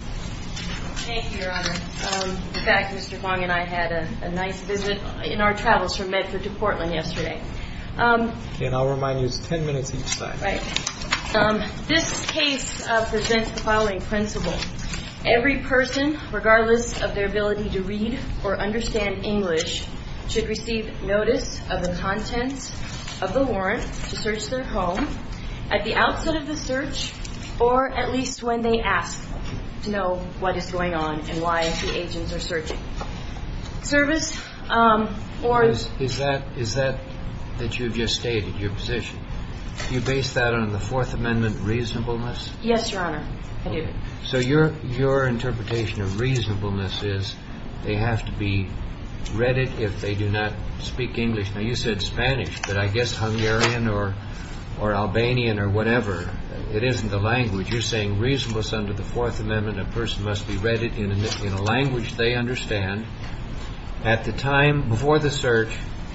Thank you, Your Honor. In fact, Mr. Fong and I had a nice visit in our travels from Medford to Portland yesterday. And I'll remind you it's 10 minutes each side. Right. This case presents the following principle. Every person, regardless of their ability to read or understand English, should receive notice of the contents of the warrant to search their home at the outset of the search or at least when they ask to know what is going on and why the agents are searching. Service or... Is that that you've just stated, your position? Do you base that on the Fourth Amendment reasonableness? Yes, Your Honor, I do. So your interpretation of reasonableness is they have to be read it if they do not speak English. Now, you said Spanish, but I guess Hungarian or Albanian or whatever, it isn't the language. You're saying reasonableness under the Fourth Amendment, a person must be read it in a language they understand at the time before the search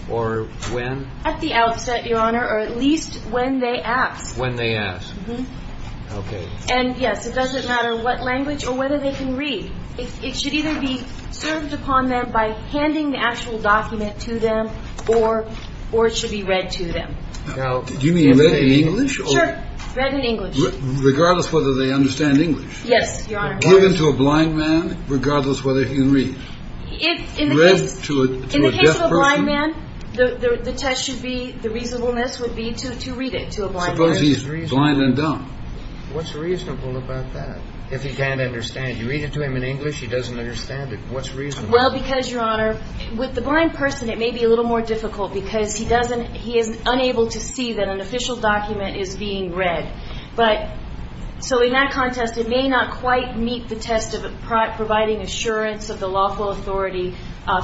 or when? At the outset, Your Honor, or at least when they ask. When they ask. Mm-hmm. Okay. And, yes, it doesn't matter what language or whether they can read. It should either be served upon them by handing the actual document to them or it should be read to them. Do you mean read in English? Sure. Read in English. Regardless whether they understand English. Yes, Your Honor. Given to a blind man, regardless whether he can read. In the case of a blind man, the test should be, the reasonableness would be to read it to a blind man. Suppose he's blind and dumb. What's reasonable about that? If he can't understand. You read it to him in English, he doesn't understand it. What's reasonable? Well, because, Your Honor, with the blind person, it may be a little more difficult because he doesn't, he is unable to see that an official document is being read. But, so in that context, it may not quite meet the test of providing assurance of the lawful authority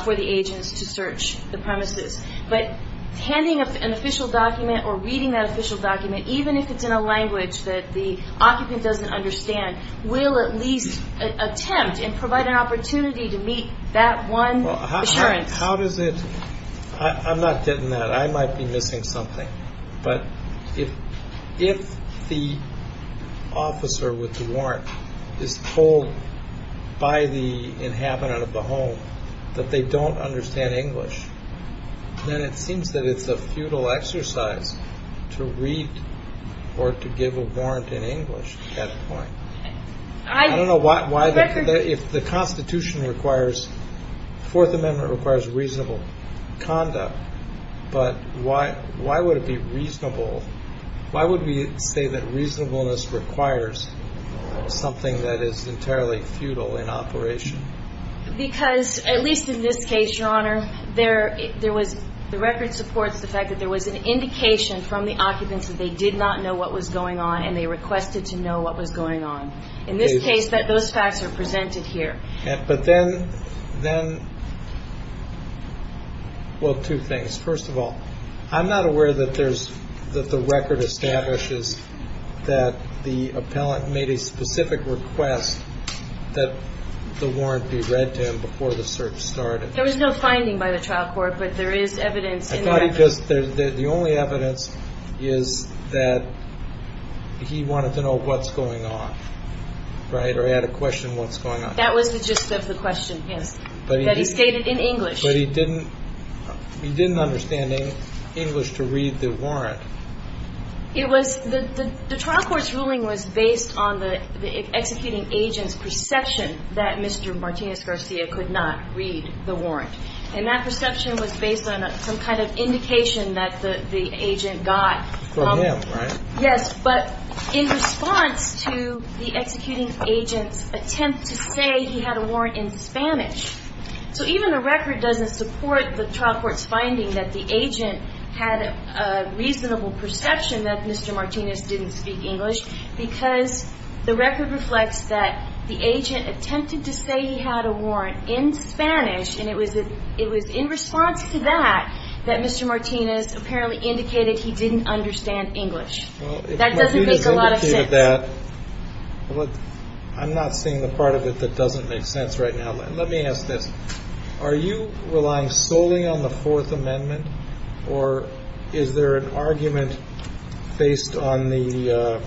for the agents to search the premises. But handing an official document or reading that official document, even if it's in a language that the occupant doesn't understand, will at least attempt and provide an opportunity to meet that one assurance. How does it, I'm not getting that. I might be missing something. But if the officer with the warrant is told by the inhabitant of the home that they don't understand English, then it seems that it's a futile exercise to read or to give a warrant in English at that point. I don't know why, if the Constitution requires, Fourth Amendment requires reasonable conduct, but why would it be reasonable, why would we say that reasonableness requires something that is entirely futile in operation? Because, at least in this case, Your Honor, there was, the record supports the fact that there was an indication from the occupants that they did not know what was going on and they requested to know what was going on. In this case, those facts are presented here. But then, well, two things. First of all, I'm not aware that there's, that the record establishes that the appellant made a specific request that the warrant be read to him before the search started. There was no finding by the trial court, but there is evidence. I thought it just, the only evidence is that he wanted to know what's going on, right, or he had a question what's going on. That was the gist of the question, yes, that he stated in English. But he didn't, he didn't understand English to read the warrant. It was, the trial court's ruling was based on the executing agent's perception that Mr. Martinez Garcia could not read the warrant. And that perception was based on some kind of indication that the agent got. From him, right? Yes, but in response to the executing agent's attempt to say he had a warrant in Spanish. So even the record doesn't support the trial court's finding that the agent had a reasonable perception that Mr. Martinez didn't speak English because the record reflects that the agent attempted to say he had a warrant in Spanish, and it was in response to that that Mr. Martinez apparently indicated he didn't understand English. That doesn't make a lot of sense. Well, if Martinez indicated that, I'm not seeing the part of it that doesn't make sense right now. Let me ask this. Are you relying solely on the Fourth Amendment? Or is there an argument based on the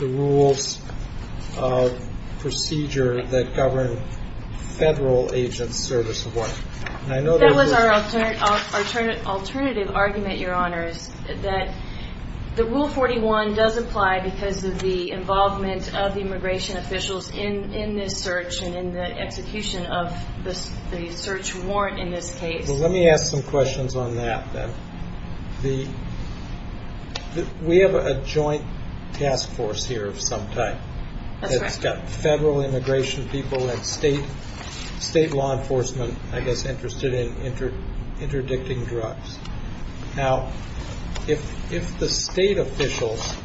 rules of procedure that govern federal agents' service of warrant? That was our alternative argument, Your Honors, that the Rule 41 does apply because of the involvement of the immigration officials in this search and in the execution of the search warrant in this case. Well, let me ask some questions on that then. We have a joint task force here of some type. That's correct. It's got federal immigration people and state law enforcement, I guess, interested in interdicting drugs. Now, if the state officials,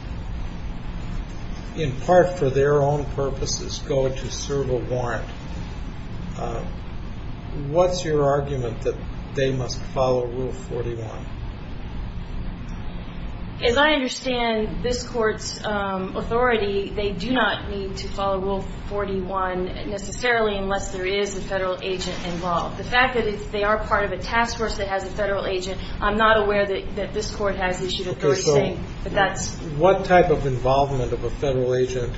in part for their own purposes, go to serve a warrant, what's your argument that they must follow Rule 41? As I understand this court's authority, they do not need to follow Rule 41 necessarily unless there is a federal agent involved. The fact that they are part of a task force that has a federal agent, I'm not aware that this court has issued authority saying that that's... What type of involvement of a federal agent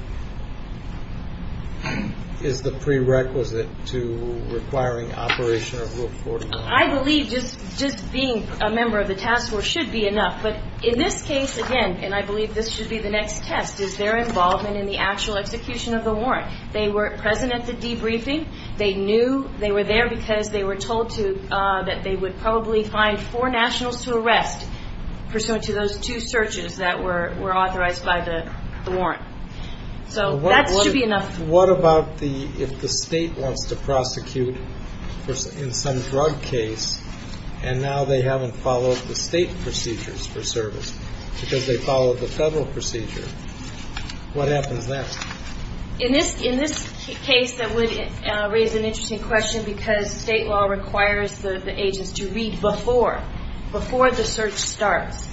is the prerequisite to requiring operation of Rule 41? I believe just being a member of the task force should be enough. But in this case, again, and I believe this should be the next test, is their involvement in the actual execution of the warrant. They were present at the debriefing. They knew they were there because they were told that they would probably find four nationals to arrest pursuant to those two searches that were authorized by the warrant. So that should be enough. What about if the state wants to prosecute in some drug case and now they haven't followed the state procedures for service because they followed the federal procedure? What happens next? In this case, that would raise an interesting question because state law requires the agents to read before the search starts.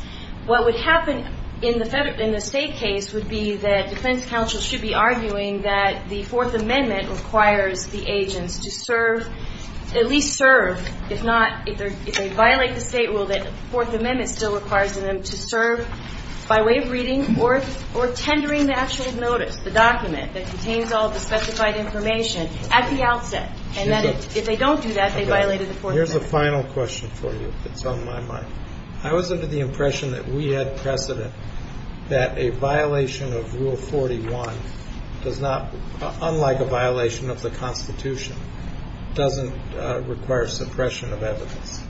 What would happen in the state case would be that defense counsel should be arguing that the Fourth Amendment requires the agents to serve, at least serve, if they violate the state rule that the Fourth Amendment still requires them to serve by way of reading or tendering the actual notice, the document that contains all the specified information at the outset. And then if they don't do that, they violated the Fourth Amendment. Here's a final question for you that's on my mind. I was under the impression that we had precedent that a violation of Rule 41 does not, unlike a violation of the Constitution, doesn't require suppression of evidence.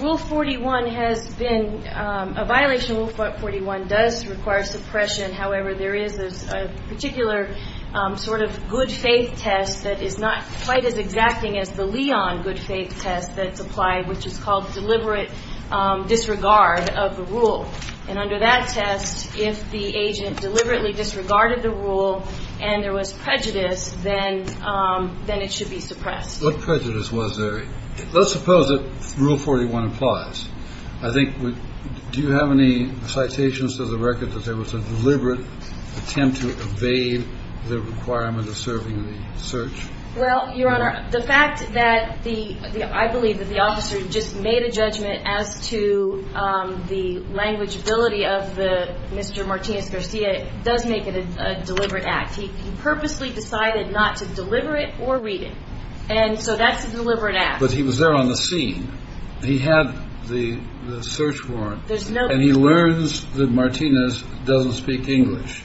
Rule 41 has been a violation. Rule 41 does require suppression. However, there is a particular sort of good-faith test that is not quite as exacting as the Leon good-faith test that's applied, which is called deliberate disregard of the rule. And under that test, if the agent deliberately disregarded the rule and there was prejudice, then it should be suppressed. What prejudice was there? Let's suppose that Rule 41 applies. I think we do have any citations to the record that there was a deliberate attempt to evade the requirement of serving the search? Well, Your Honor, the fact that the ‑‑ I believe that the officer just made a judgment as to the language ability of Mr. Martinez-Garcia does make it a deliberate act. He purposely decided not to deliver it or read it. And so that's a deliberate act. But he was there on the scene. He had the search warrant. There's no ‑‑ And he learns that Martinez doesn't speak English.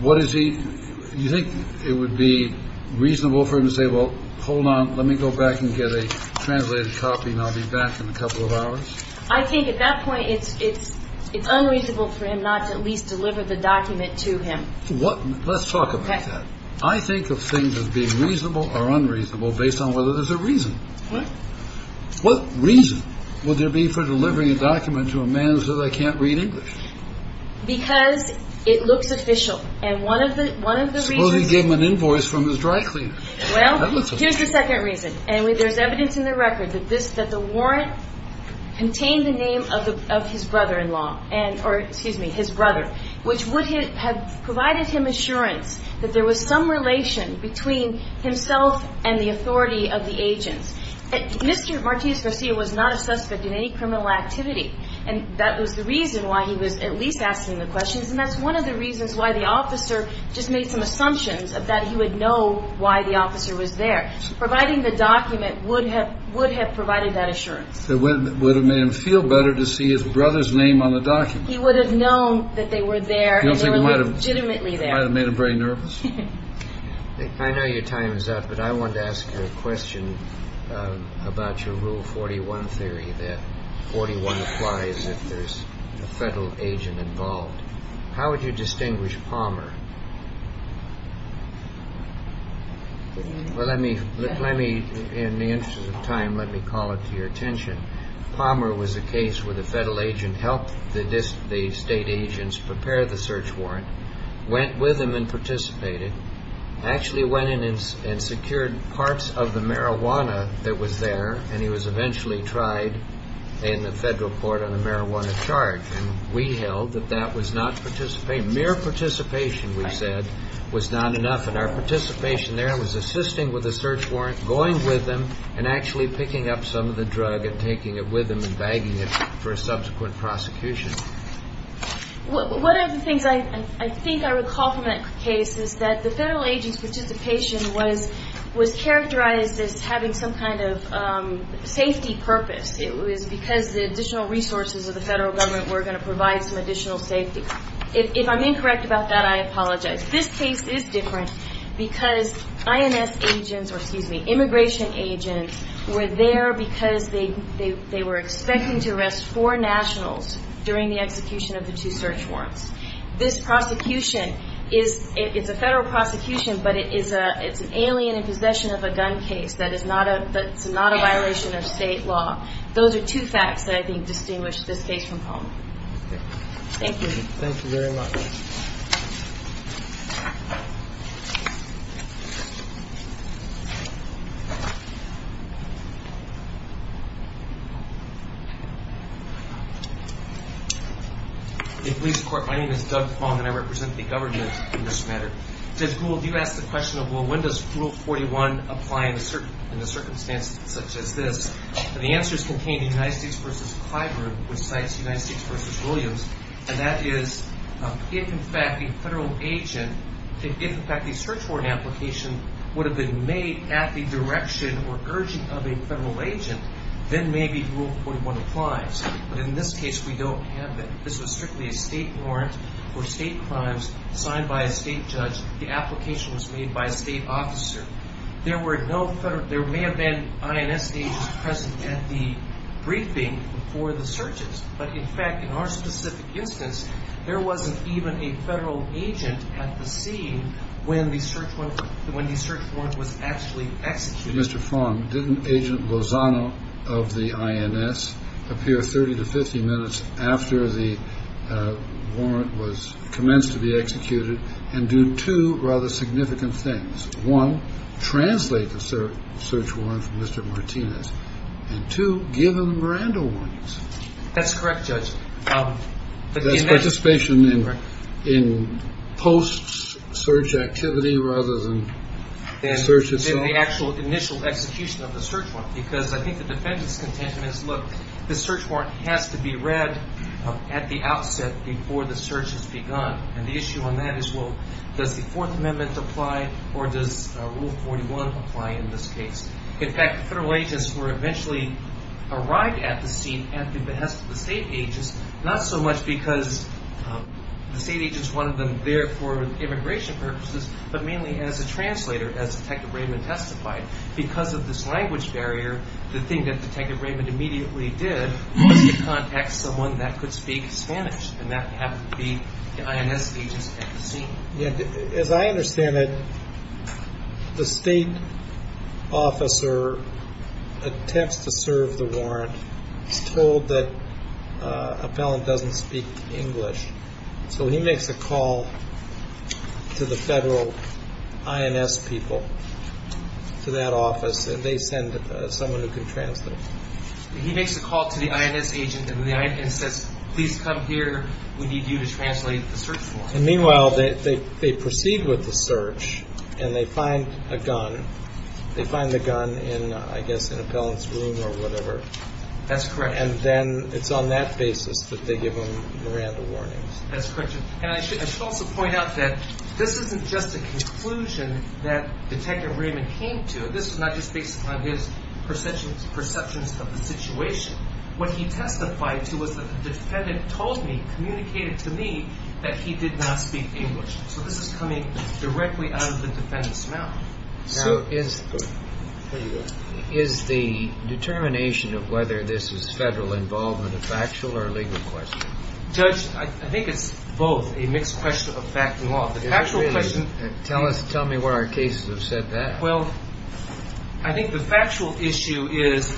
What is he ‑‑ you think it would be reasonable for him to say, well, hold on, let me go back and get a translated copy, and I'll be back in a couple of hours? I think at that point it's unreasonable for him not to at least deliver the document to him. Let's talk about that. Okay. I think of things as being reasonable or unreasonable based on whether there's a reason. What? What reason would there be for delivering a document to a man who says I can't read English? Because it looks official. And one of the reasons ‑‑ Suppose he gave him an invoice from his dry cleaner. Well, here's the second reason. And there's evidence in the record that the warrant contained the name of his brother‑in‑law, or, excuse me, his brother, which would have provided him assurance that there was some relation between himself and the authority of the agents. Mr. Martinez Garcia was not a suspect in any criminal activity, and that was the reason why he was at least asking the questions, and that's one of the reasons why the officer just made some assumptions that he would know why the officer was there, providing the document would have provided that assurance. It would have made him feel better to see his brother's name on the document. He would have known that they were there and they were legitimately there. I don't think it might have made him very nervous. I know your time is up, but I wanted to ask you a question about your Rule 41 theory, that 41 applies if there's a federal agent involved. How would you distinguish Palmer? Well, let me, in the interest of time, let me call it to your attention. Palmer was a case where the federal agent helped the state agents prepare the search warrant, went with them and participated, actually went in and secured parts of the marijuana that was there, and he was eventually tried in the federal court on a marijuana charge, and we held that that was not participation. Mere participation, we said, was not enough, and our participation there was assisting with the search warrant, going with them, and actually picking up some of the drug and taking it with them and bagging it for a subsequent prosecution. One of the things I think I recall from that case is that the federal agent's participation was characterized as having some kind of safety purpose. It was because the additional resources of the federal government were going to provide some additional safety. If I'm incorrect about that, I apologize. This case is different because INS agents, or excuse me, immigration agents, were there because they were expecting to arrest four nationals during the execution of the two search warrants. This prosecution is, it's a federal prosecution, but it's an alien in possession of a gun case. That is not a violation of state law. Those are two facts that I think distinguish this case from Fong. Thank you. Thank you very much. In police court, my name is Doug Fong, and I represent the government in this matter. It says, Google, do you ask the question of, well, when does Rule 41 apply in a circumstance such as this? And the answer is contained in United States v. Clyburn, which cites United States v. Williams. And that is if, in fact, the federal agent, if, in fact, a search warrant application would have been made at the direction or urging of a federal agent, then maybe Rule 41 applies. But in this case, we don't have that. This was strictly a state warrant for state crimes signed by a state judge. The application was made by a state officer. There were no federal, there may have been INS agents present at the briefing for the searches. But, in fact, in our specific instance, there wasn't even a federal agent at the scene when the search warrant was actually executed. Mr. Fong, didn't Agent Lozano of the INS appear 30 to 50 minutes after the warrant was commenced to be executed and do two rather significant things? One, translate the search warrant from Mr. Martinez. And two, give him Miranda warnings. That's correct, Judge. That's participation in post-search activity rather than the search itself. In the actual initial execution of the search warrant. Because I think the defendant's contention is, look, the search warrant has to be read at the outset before the search has begun. And the issue on that is, well, does the Fourth Amendment apply or does Rule 41 apply in this case? In fact, federal agents were eventually arrived at the scene at the behest of the state agents, not so much because the state agents wanted them there for immigration purposes, but mainly as a translator, as Detective Raymond testified. Because of this language barrier, the thing that Detective Raymond immediately did was to contact someone that could speak Spanish. And that happened to be the INS agents at the scene. As I understand it, the state officer attempts to serve the warrant. He's told that a felon doesn't speak English. So he makes a call to the federal INS people, to that office, and they send someone who can translate. He makes a call to the INS agent and says, please come here, we need you to translate the search warrant. Meanwhile, they proceed with the search and they find a gun. They find the gun in, I guess, an appellant's room or whatever. That's correct. And then it's on that basis that they give him Miranda warnings. That's correct. And I should also point out that this isn't just a conclusion that Detective Raymond came to. This is not just based upon his perceptions of the situation. What he testified to was that the defendant told me, communicated to me, that he did not speak English. So this is coming directly out of the defendant's mouth. Is the determination of whether this is federal involvement a factual or legal question? Judge, I think it's both a mixed question of fact and law. Tell me where our cases have said that. Well, I think the factual issue is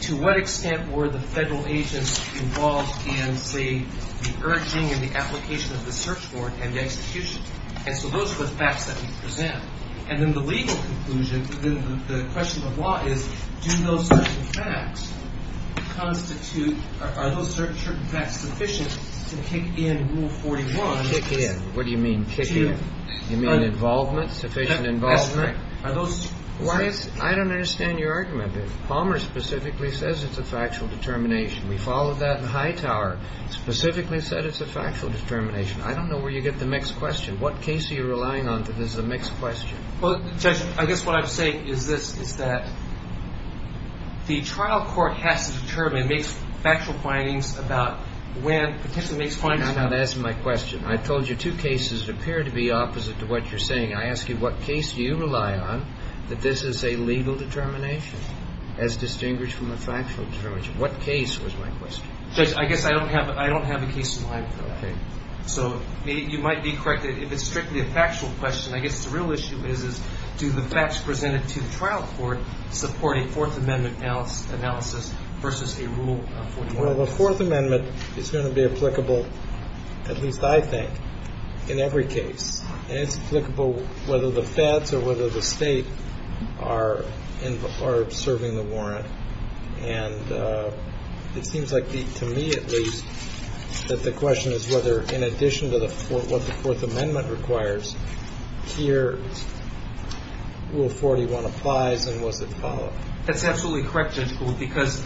to what extent were the federal agents involved in, say, the urging and the application of the search warrant and the execution? And so those are the facts that we present. And then the legal conclusion, the question of law is, do those certain facts constitute, are those certain facts sufficient to kick in Rule 41? Kick in. What do you mean, kick in? You mean involvement, sufficient involvement? That's right. I don't understand your argument. Palmer specifically says it's a factual determination. We followed that in Hightower. Specifically said it's a factual determination. I don't know where you get the mixed question. What case are you relying on that is a mixed question? Well, Judge, I guess what I'm saying is this, is that the trial court has to determine, makes factual findings about when, potentially makes findings about when. I'm not asking my question. I told you two cases appear to be opposite to what you're saying. I ask you, what case do you rely on that this is a legal determination, as distinguished from a factual determination? What case was my question? Judge, I guess I don't have a case in mind for that. Okay. So you might be correct that if it's strictly a factual question, I guess the real issue is do the facts presented to the trial court support a Fourth Amendment analysis versus a Rule 41? Well, the Fourth Amendment is going to be applicable, at least I think, in every case. And it's applicable whether the feds or whether the state are serving the warrant. And it seems like to me, at least, that the question is whether in addition to what the Fourth Amendment requires, here Rule 41 applies and was it followed? That's absolutely correct, Judge Gould, because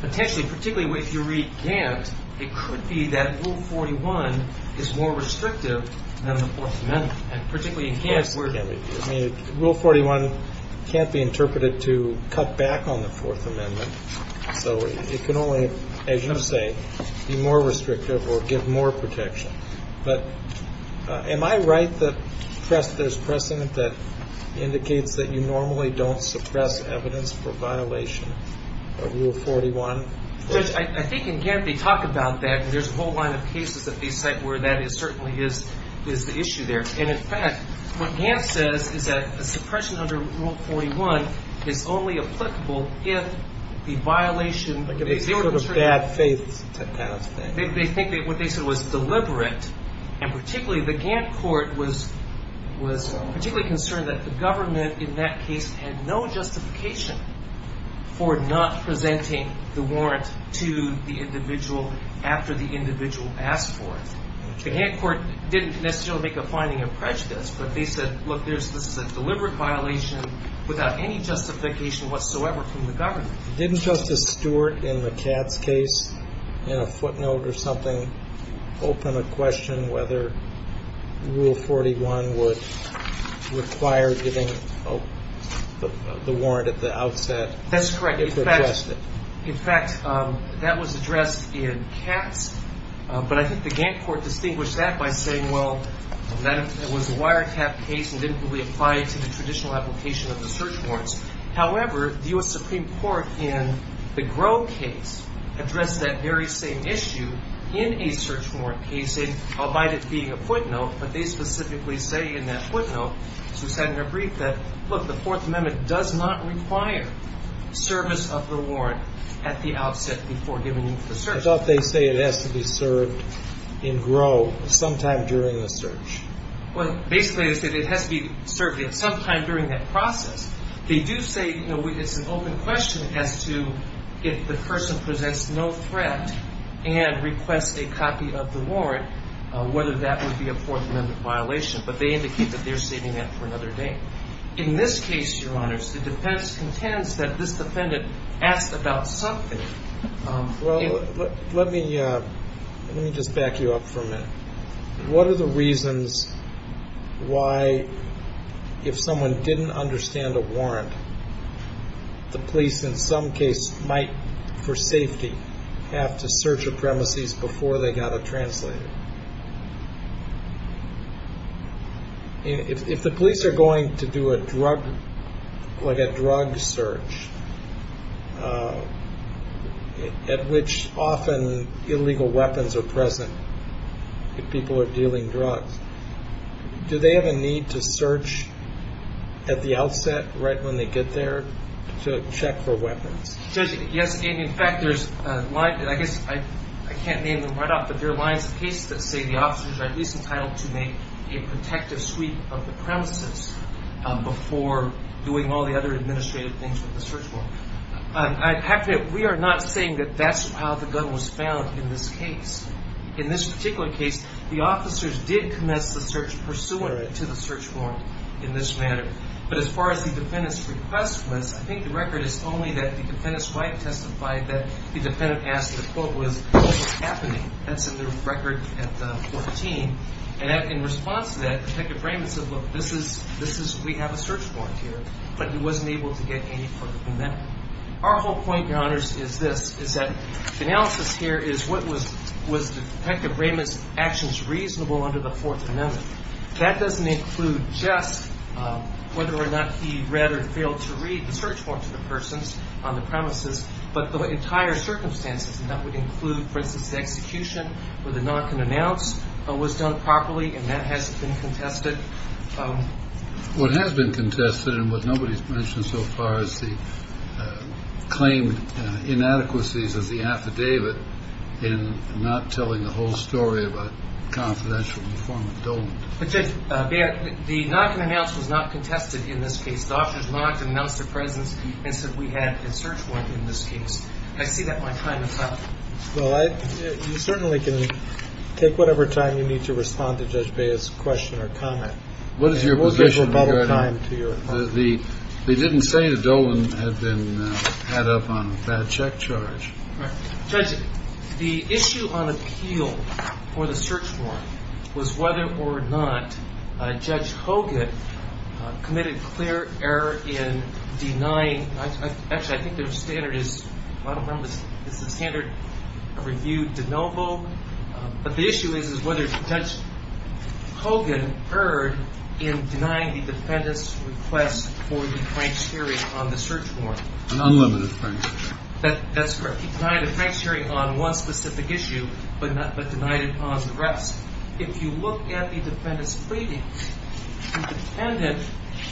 potentially, particularly if you read Gantt, it could be that Rule 41 is more restrictive than the Fourth Amendment. And particularly in Gantt's word. Rule 41 can't be interpreted to cut back on the Fourth Amendment. So it can only, as you say, be more restrictive or give more protection. But am I right that there's precedent that indicates that you normally don't suppress evidence for violation of Rule 41? Judge, I think in Gantt they talk about that, and there's a whole line of cases that they cite where that certainly is the issue there. And, in fact, what Gantt says is that a suppression under Rule 41 is only applicable if the violation. Like if it's sort of bad faith to pass that. They think that what they said was deliberate. And particularly the Gantt court was particularly concerned that the government in that case had no justification for not presenting the warrant to the individual after the individual asked for it. The Gantt court didn't necessarily make a finding of prejudice, but they said, look, this is a deliberate violation without any justification whatsoever from the government. Didn't Justice Stewart in the Katz case in a footnote or something open a question whether Rule 41 would require giving the warrant at the outset? That's correct. In fact, that was addressed in Katz. But I think the Gantt court distinguished that by saying, well, that was a wiretap case and didn't really apply to the traditional application of the search warrants. However, the U.S. Supreme Court in the Groh case addressed that very same issue in a search warrant case, albeit it being a footnote. But they specifically say in that footnote, as we said in our brief, that, look, the Fourth Amendment does not require service of the warrant at the outset before giving you the search warrant. As a result, they say it has to be served in Groh sometime during the search. Well, basically they say it has to be served sometime during that process. They do say it's an open question as to if the person presents no threat and requests a copy of the warrant, whether that would be a Fourth Amendment violation. But they indicate that they're saving that for another day. In this case, Your Honors, the defense contends that this defendant asked about something. Well, let me just back you up for a minute. What are the reasons why, if someone didn't understand a warrant, the police in some case might, for safety, have to search a premises before they got a translator? If the police are going to do a drug, like a drug search at which often illegal weapons are present, if people are dealing drugs, do they have a need to search at the outset right when they get there to check for weapons? Yes. And, in fact, I guess I can't name them right off, but there are lines of cases that say the officers are at least entitled to make a protective sweep of the premises before doing all the other administrative things with the search warrant. We are not saying that that's how the gun was found in this case. In this particular case, the officers did commence the search pursuant to the search warrant in this matter. But as far as the defendant's request was, I think the record is only that the defendant's wife testified that the 14. And in response to that, Detective Raymond said, look, this is, we have a search warrant here. But he wasn't able to get any further than that. Our whole point, Your Honors, is this, is that analysis here is what was Detective Raymond's actions reasonable under the Fourth Amendment. That doesn't include just whether or not he read or failed to read the search warrant to the persons on the premises, but the entire circumstances. And that would include, for instance, the execution where the knock and announce was done properly. And that hasn't been contested. What has been contested and what nobody's mentioned so far is the claimed inadequacies of the affidavit in not telling the whole story about confidential in the form of dolement. But Judge Baird, the knock and announce was not contested in this case. The officers knocked and announced their presence and said we had a search warrant in this case. I see that my time is up. Well, you certainly can take whatever time you need to respond to Judge Baird's question or comment. What is your position? They didn't say the dolement had been had up on a bad check charge. Judge, the issue on appeal for the search warrant was whether or not Judge Hogan committed clear error in denying, actually I think their standard is, I don't remember, is the standard of review de novo. But the issue is whether Judge Hogan erred in denying the defendant's request for the Frank's hearing on the search warrant. An unlimited Frank's hearing. That's correct. He denied the Frank's hearing on one specific issue, but denied it on the rest. If you look at the defendant's plea, the defendant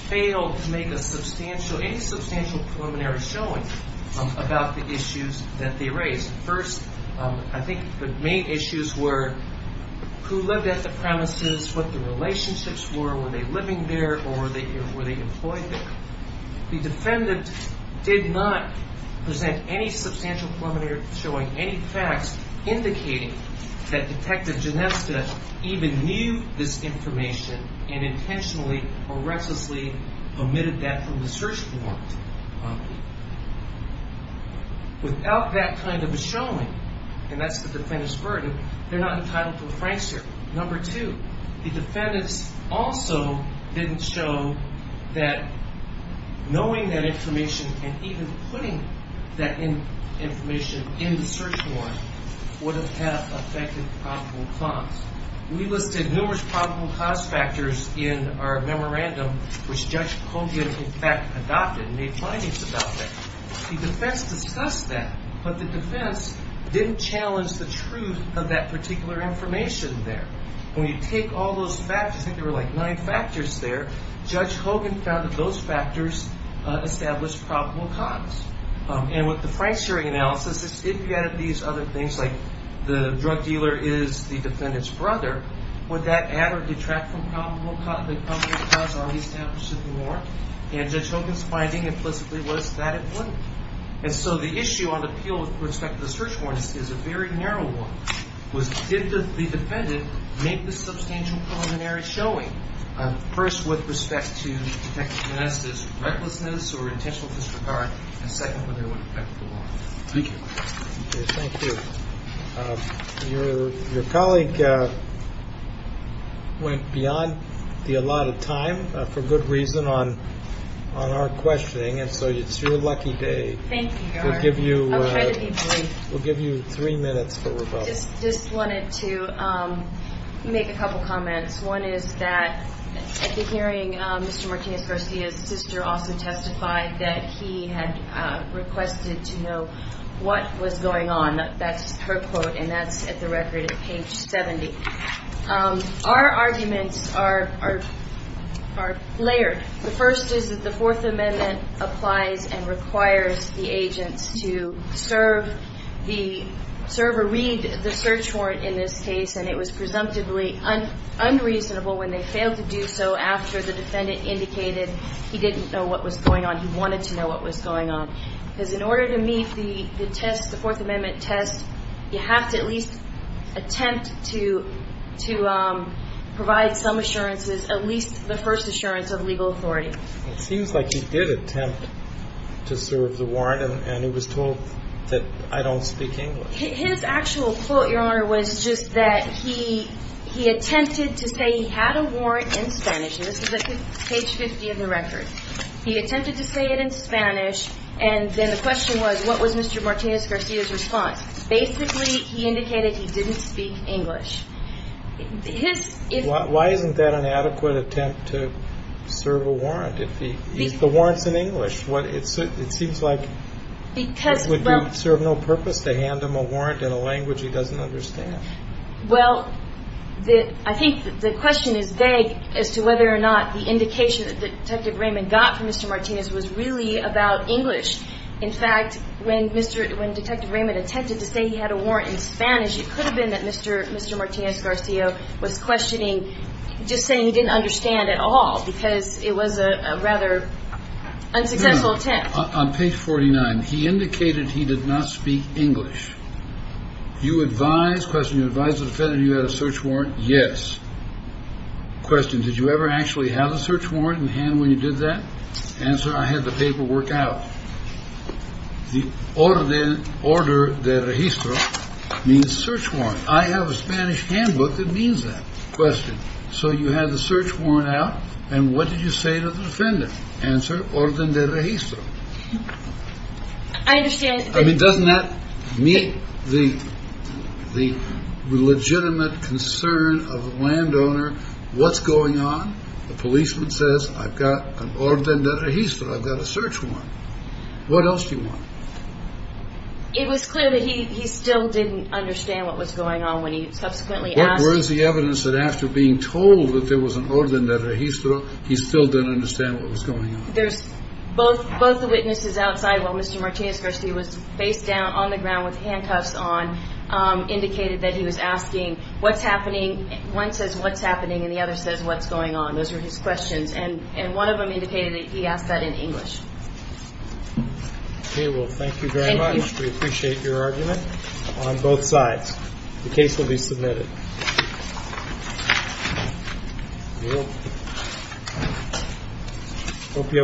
failed to make a substantial, any substantial preliminary showing about the issues that they raised. First, I think the main issues were who lived at the premises, what the relationships were, were they living there or were they employed there? The defendant did not present any substantial preliminary showing, any facts indicating that Detective Genesta even knew this information and intentionally or recklessly omitted that from the search warrant. Without that kind of a showing, and that's the defendant's burden, they're not entitled to a Frank's hearing. Number two, the defendants also didn't show that knowing that information and even putting that information in the search warrant would have affected probable cause. We listed numerous probable cause factors in our memorandum, which Judge Hogan, in fact, adopted and made findings about that. The defense discussed that, but the defense didn't challenge the truth of that particular information there. When you take all those factors, I think there were like nine factors there, Judge Hogan found that those factors established probable cause. And with the Frank's hearing analysis, it's if you added these other things, like the drug dealer is the defendant's brother, would that add or detract from probable cause or be established in the warrant? And Judge Hogan's finding implicitly was that it wouldn't. And so the issue on appeal with respect to the search warrant is a very narrow one. Did the defendant make the substantial preliminary showing? First, with respect to Detective Genesta's recklessness or intentional disregard, and second, whether it would affect the warrant. Thank you. Thank you. Your colleague went beyond the allotted time, for good reason, on our questioning, and so it's your lucky day. Thank you. I'll try to be brief. We'll give you three minutes for rebuttal. Just wanted to make a couple comments. One is that at the hearing, Mr. Martinez-Garcia's sister also testified that he had requested to know what was going on. That's her quote, and that's at the record at page 70. Our arguments are layered. The first is that the Fourth Amendment applies and requires the agents to serve or read the search warrant in this case, and it was presumptively unreasonable when they failed to do so after the defendant indicated he didn't know what was going on. He wanted to know what was going on, because in order to meet the test, the Fourth Amendment test, you have to at least attempt to provide some assurances, at least the first assurance of legal authority. It seems like he did attempt to serve the warrant, and he was told that I don't speak English. His actual quote, Your Honor, was just that he attempted to say he had a warrant in Spanish, and this is at page 50 of the record. He attempted to say it in Spanish, and then the question was what was Mr. Martinez-Garcia's response. Basically, he indicated he didn't speak English. Why isn't that an adequate attempt to serve a warrant? If the warrant's in English, it seems like it would serve no purpose to hand him a warrant in a language he doesn't understand. Well, I think the question is vague as to whether or not the indication that Detective Raymond got from Mr. Martinez was really about English. In fact, when Detective Raymond attempted to say he had a warrant in Spanish, it could have been that Mr. Martinez-Garcia was questioning, just saying he didn't understand at all because it was a rather unsuccessful attempt. On page 49, he indicated he did not speak English. Do you advise the defendant you had a search warrant? Yes. Question, did you ever actually have a search warrant in hand when you did that? Answer, I had the paperwork out. The orden de registro means search warrant. I have a Spanish handbook that means that. Question, so you had the search warrant out, and what did you say to the defendant? Answer, orden de registro. I understand. I mean, doesn't that meet the legitimate concern of the landowner? What's going on? The policeman says, I've got an orden de registro. I've got a search warrant. What else do you want? It was clear that he still didn't understand what was going on when he subsequently asked. What was the evidence that after being told that there was an orden de registro, he still didn't understand what was going on? Both the witnesses outside, while Mr. Martinez-Garcia was face down on the ground with handcuffs on, indicated that he was asking, what's happening? One says, what's happening? And the other says, what's going on? Those were his questions. And one of them indicated that he asked that in English. Okay. Well, thank you very much. We appreciate your argument on both sides. The case will be submitted. Thank you.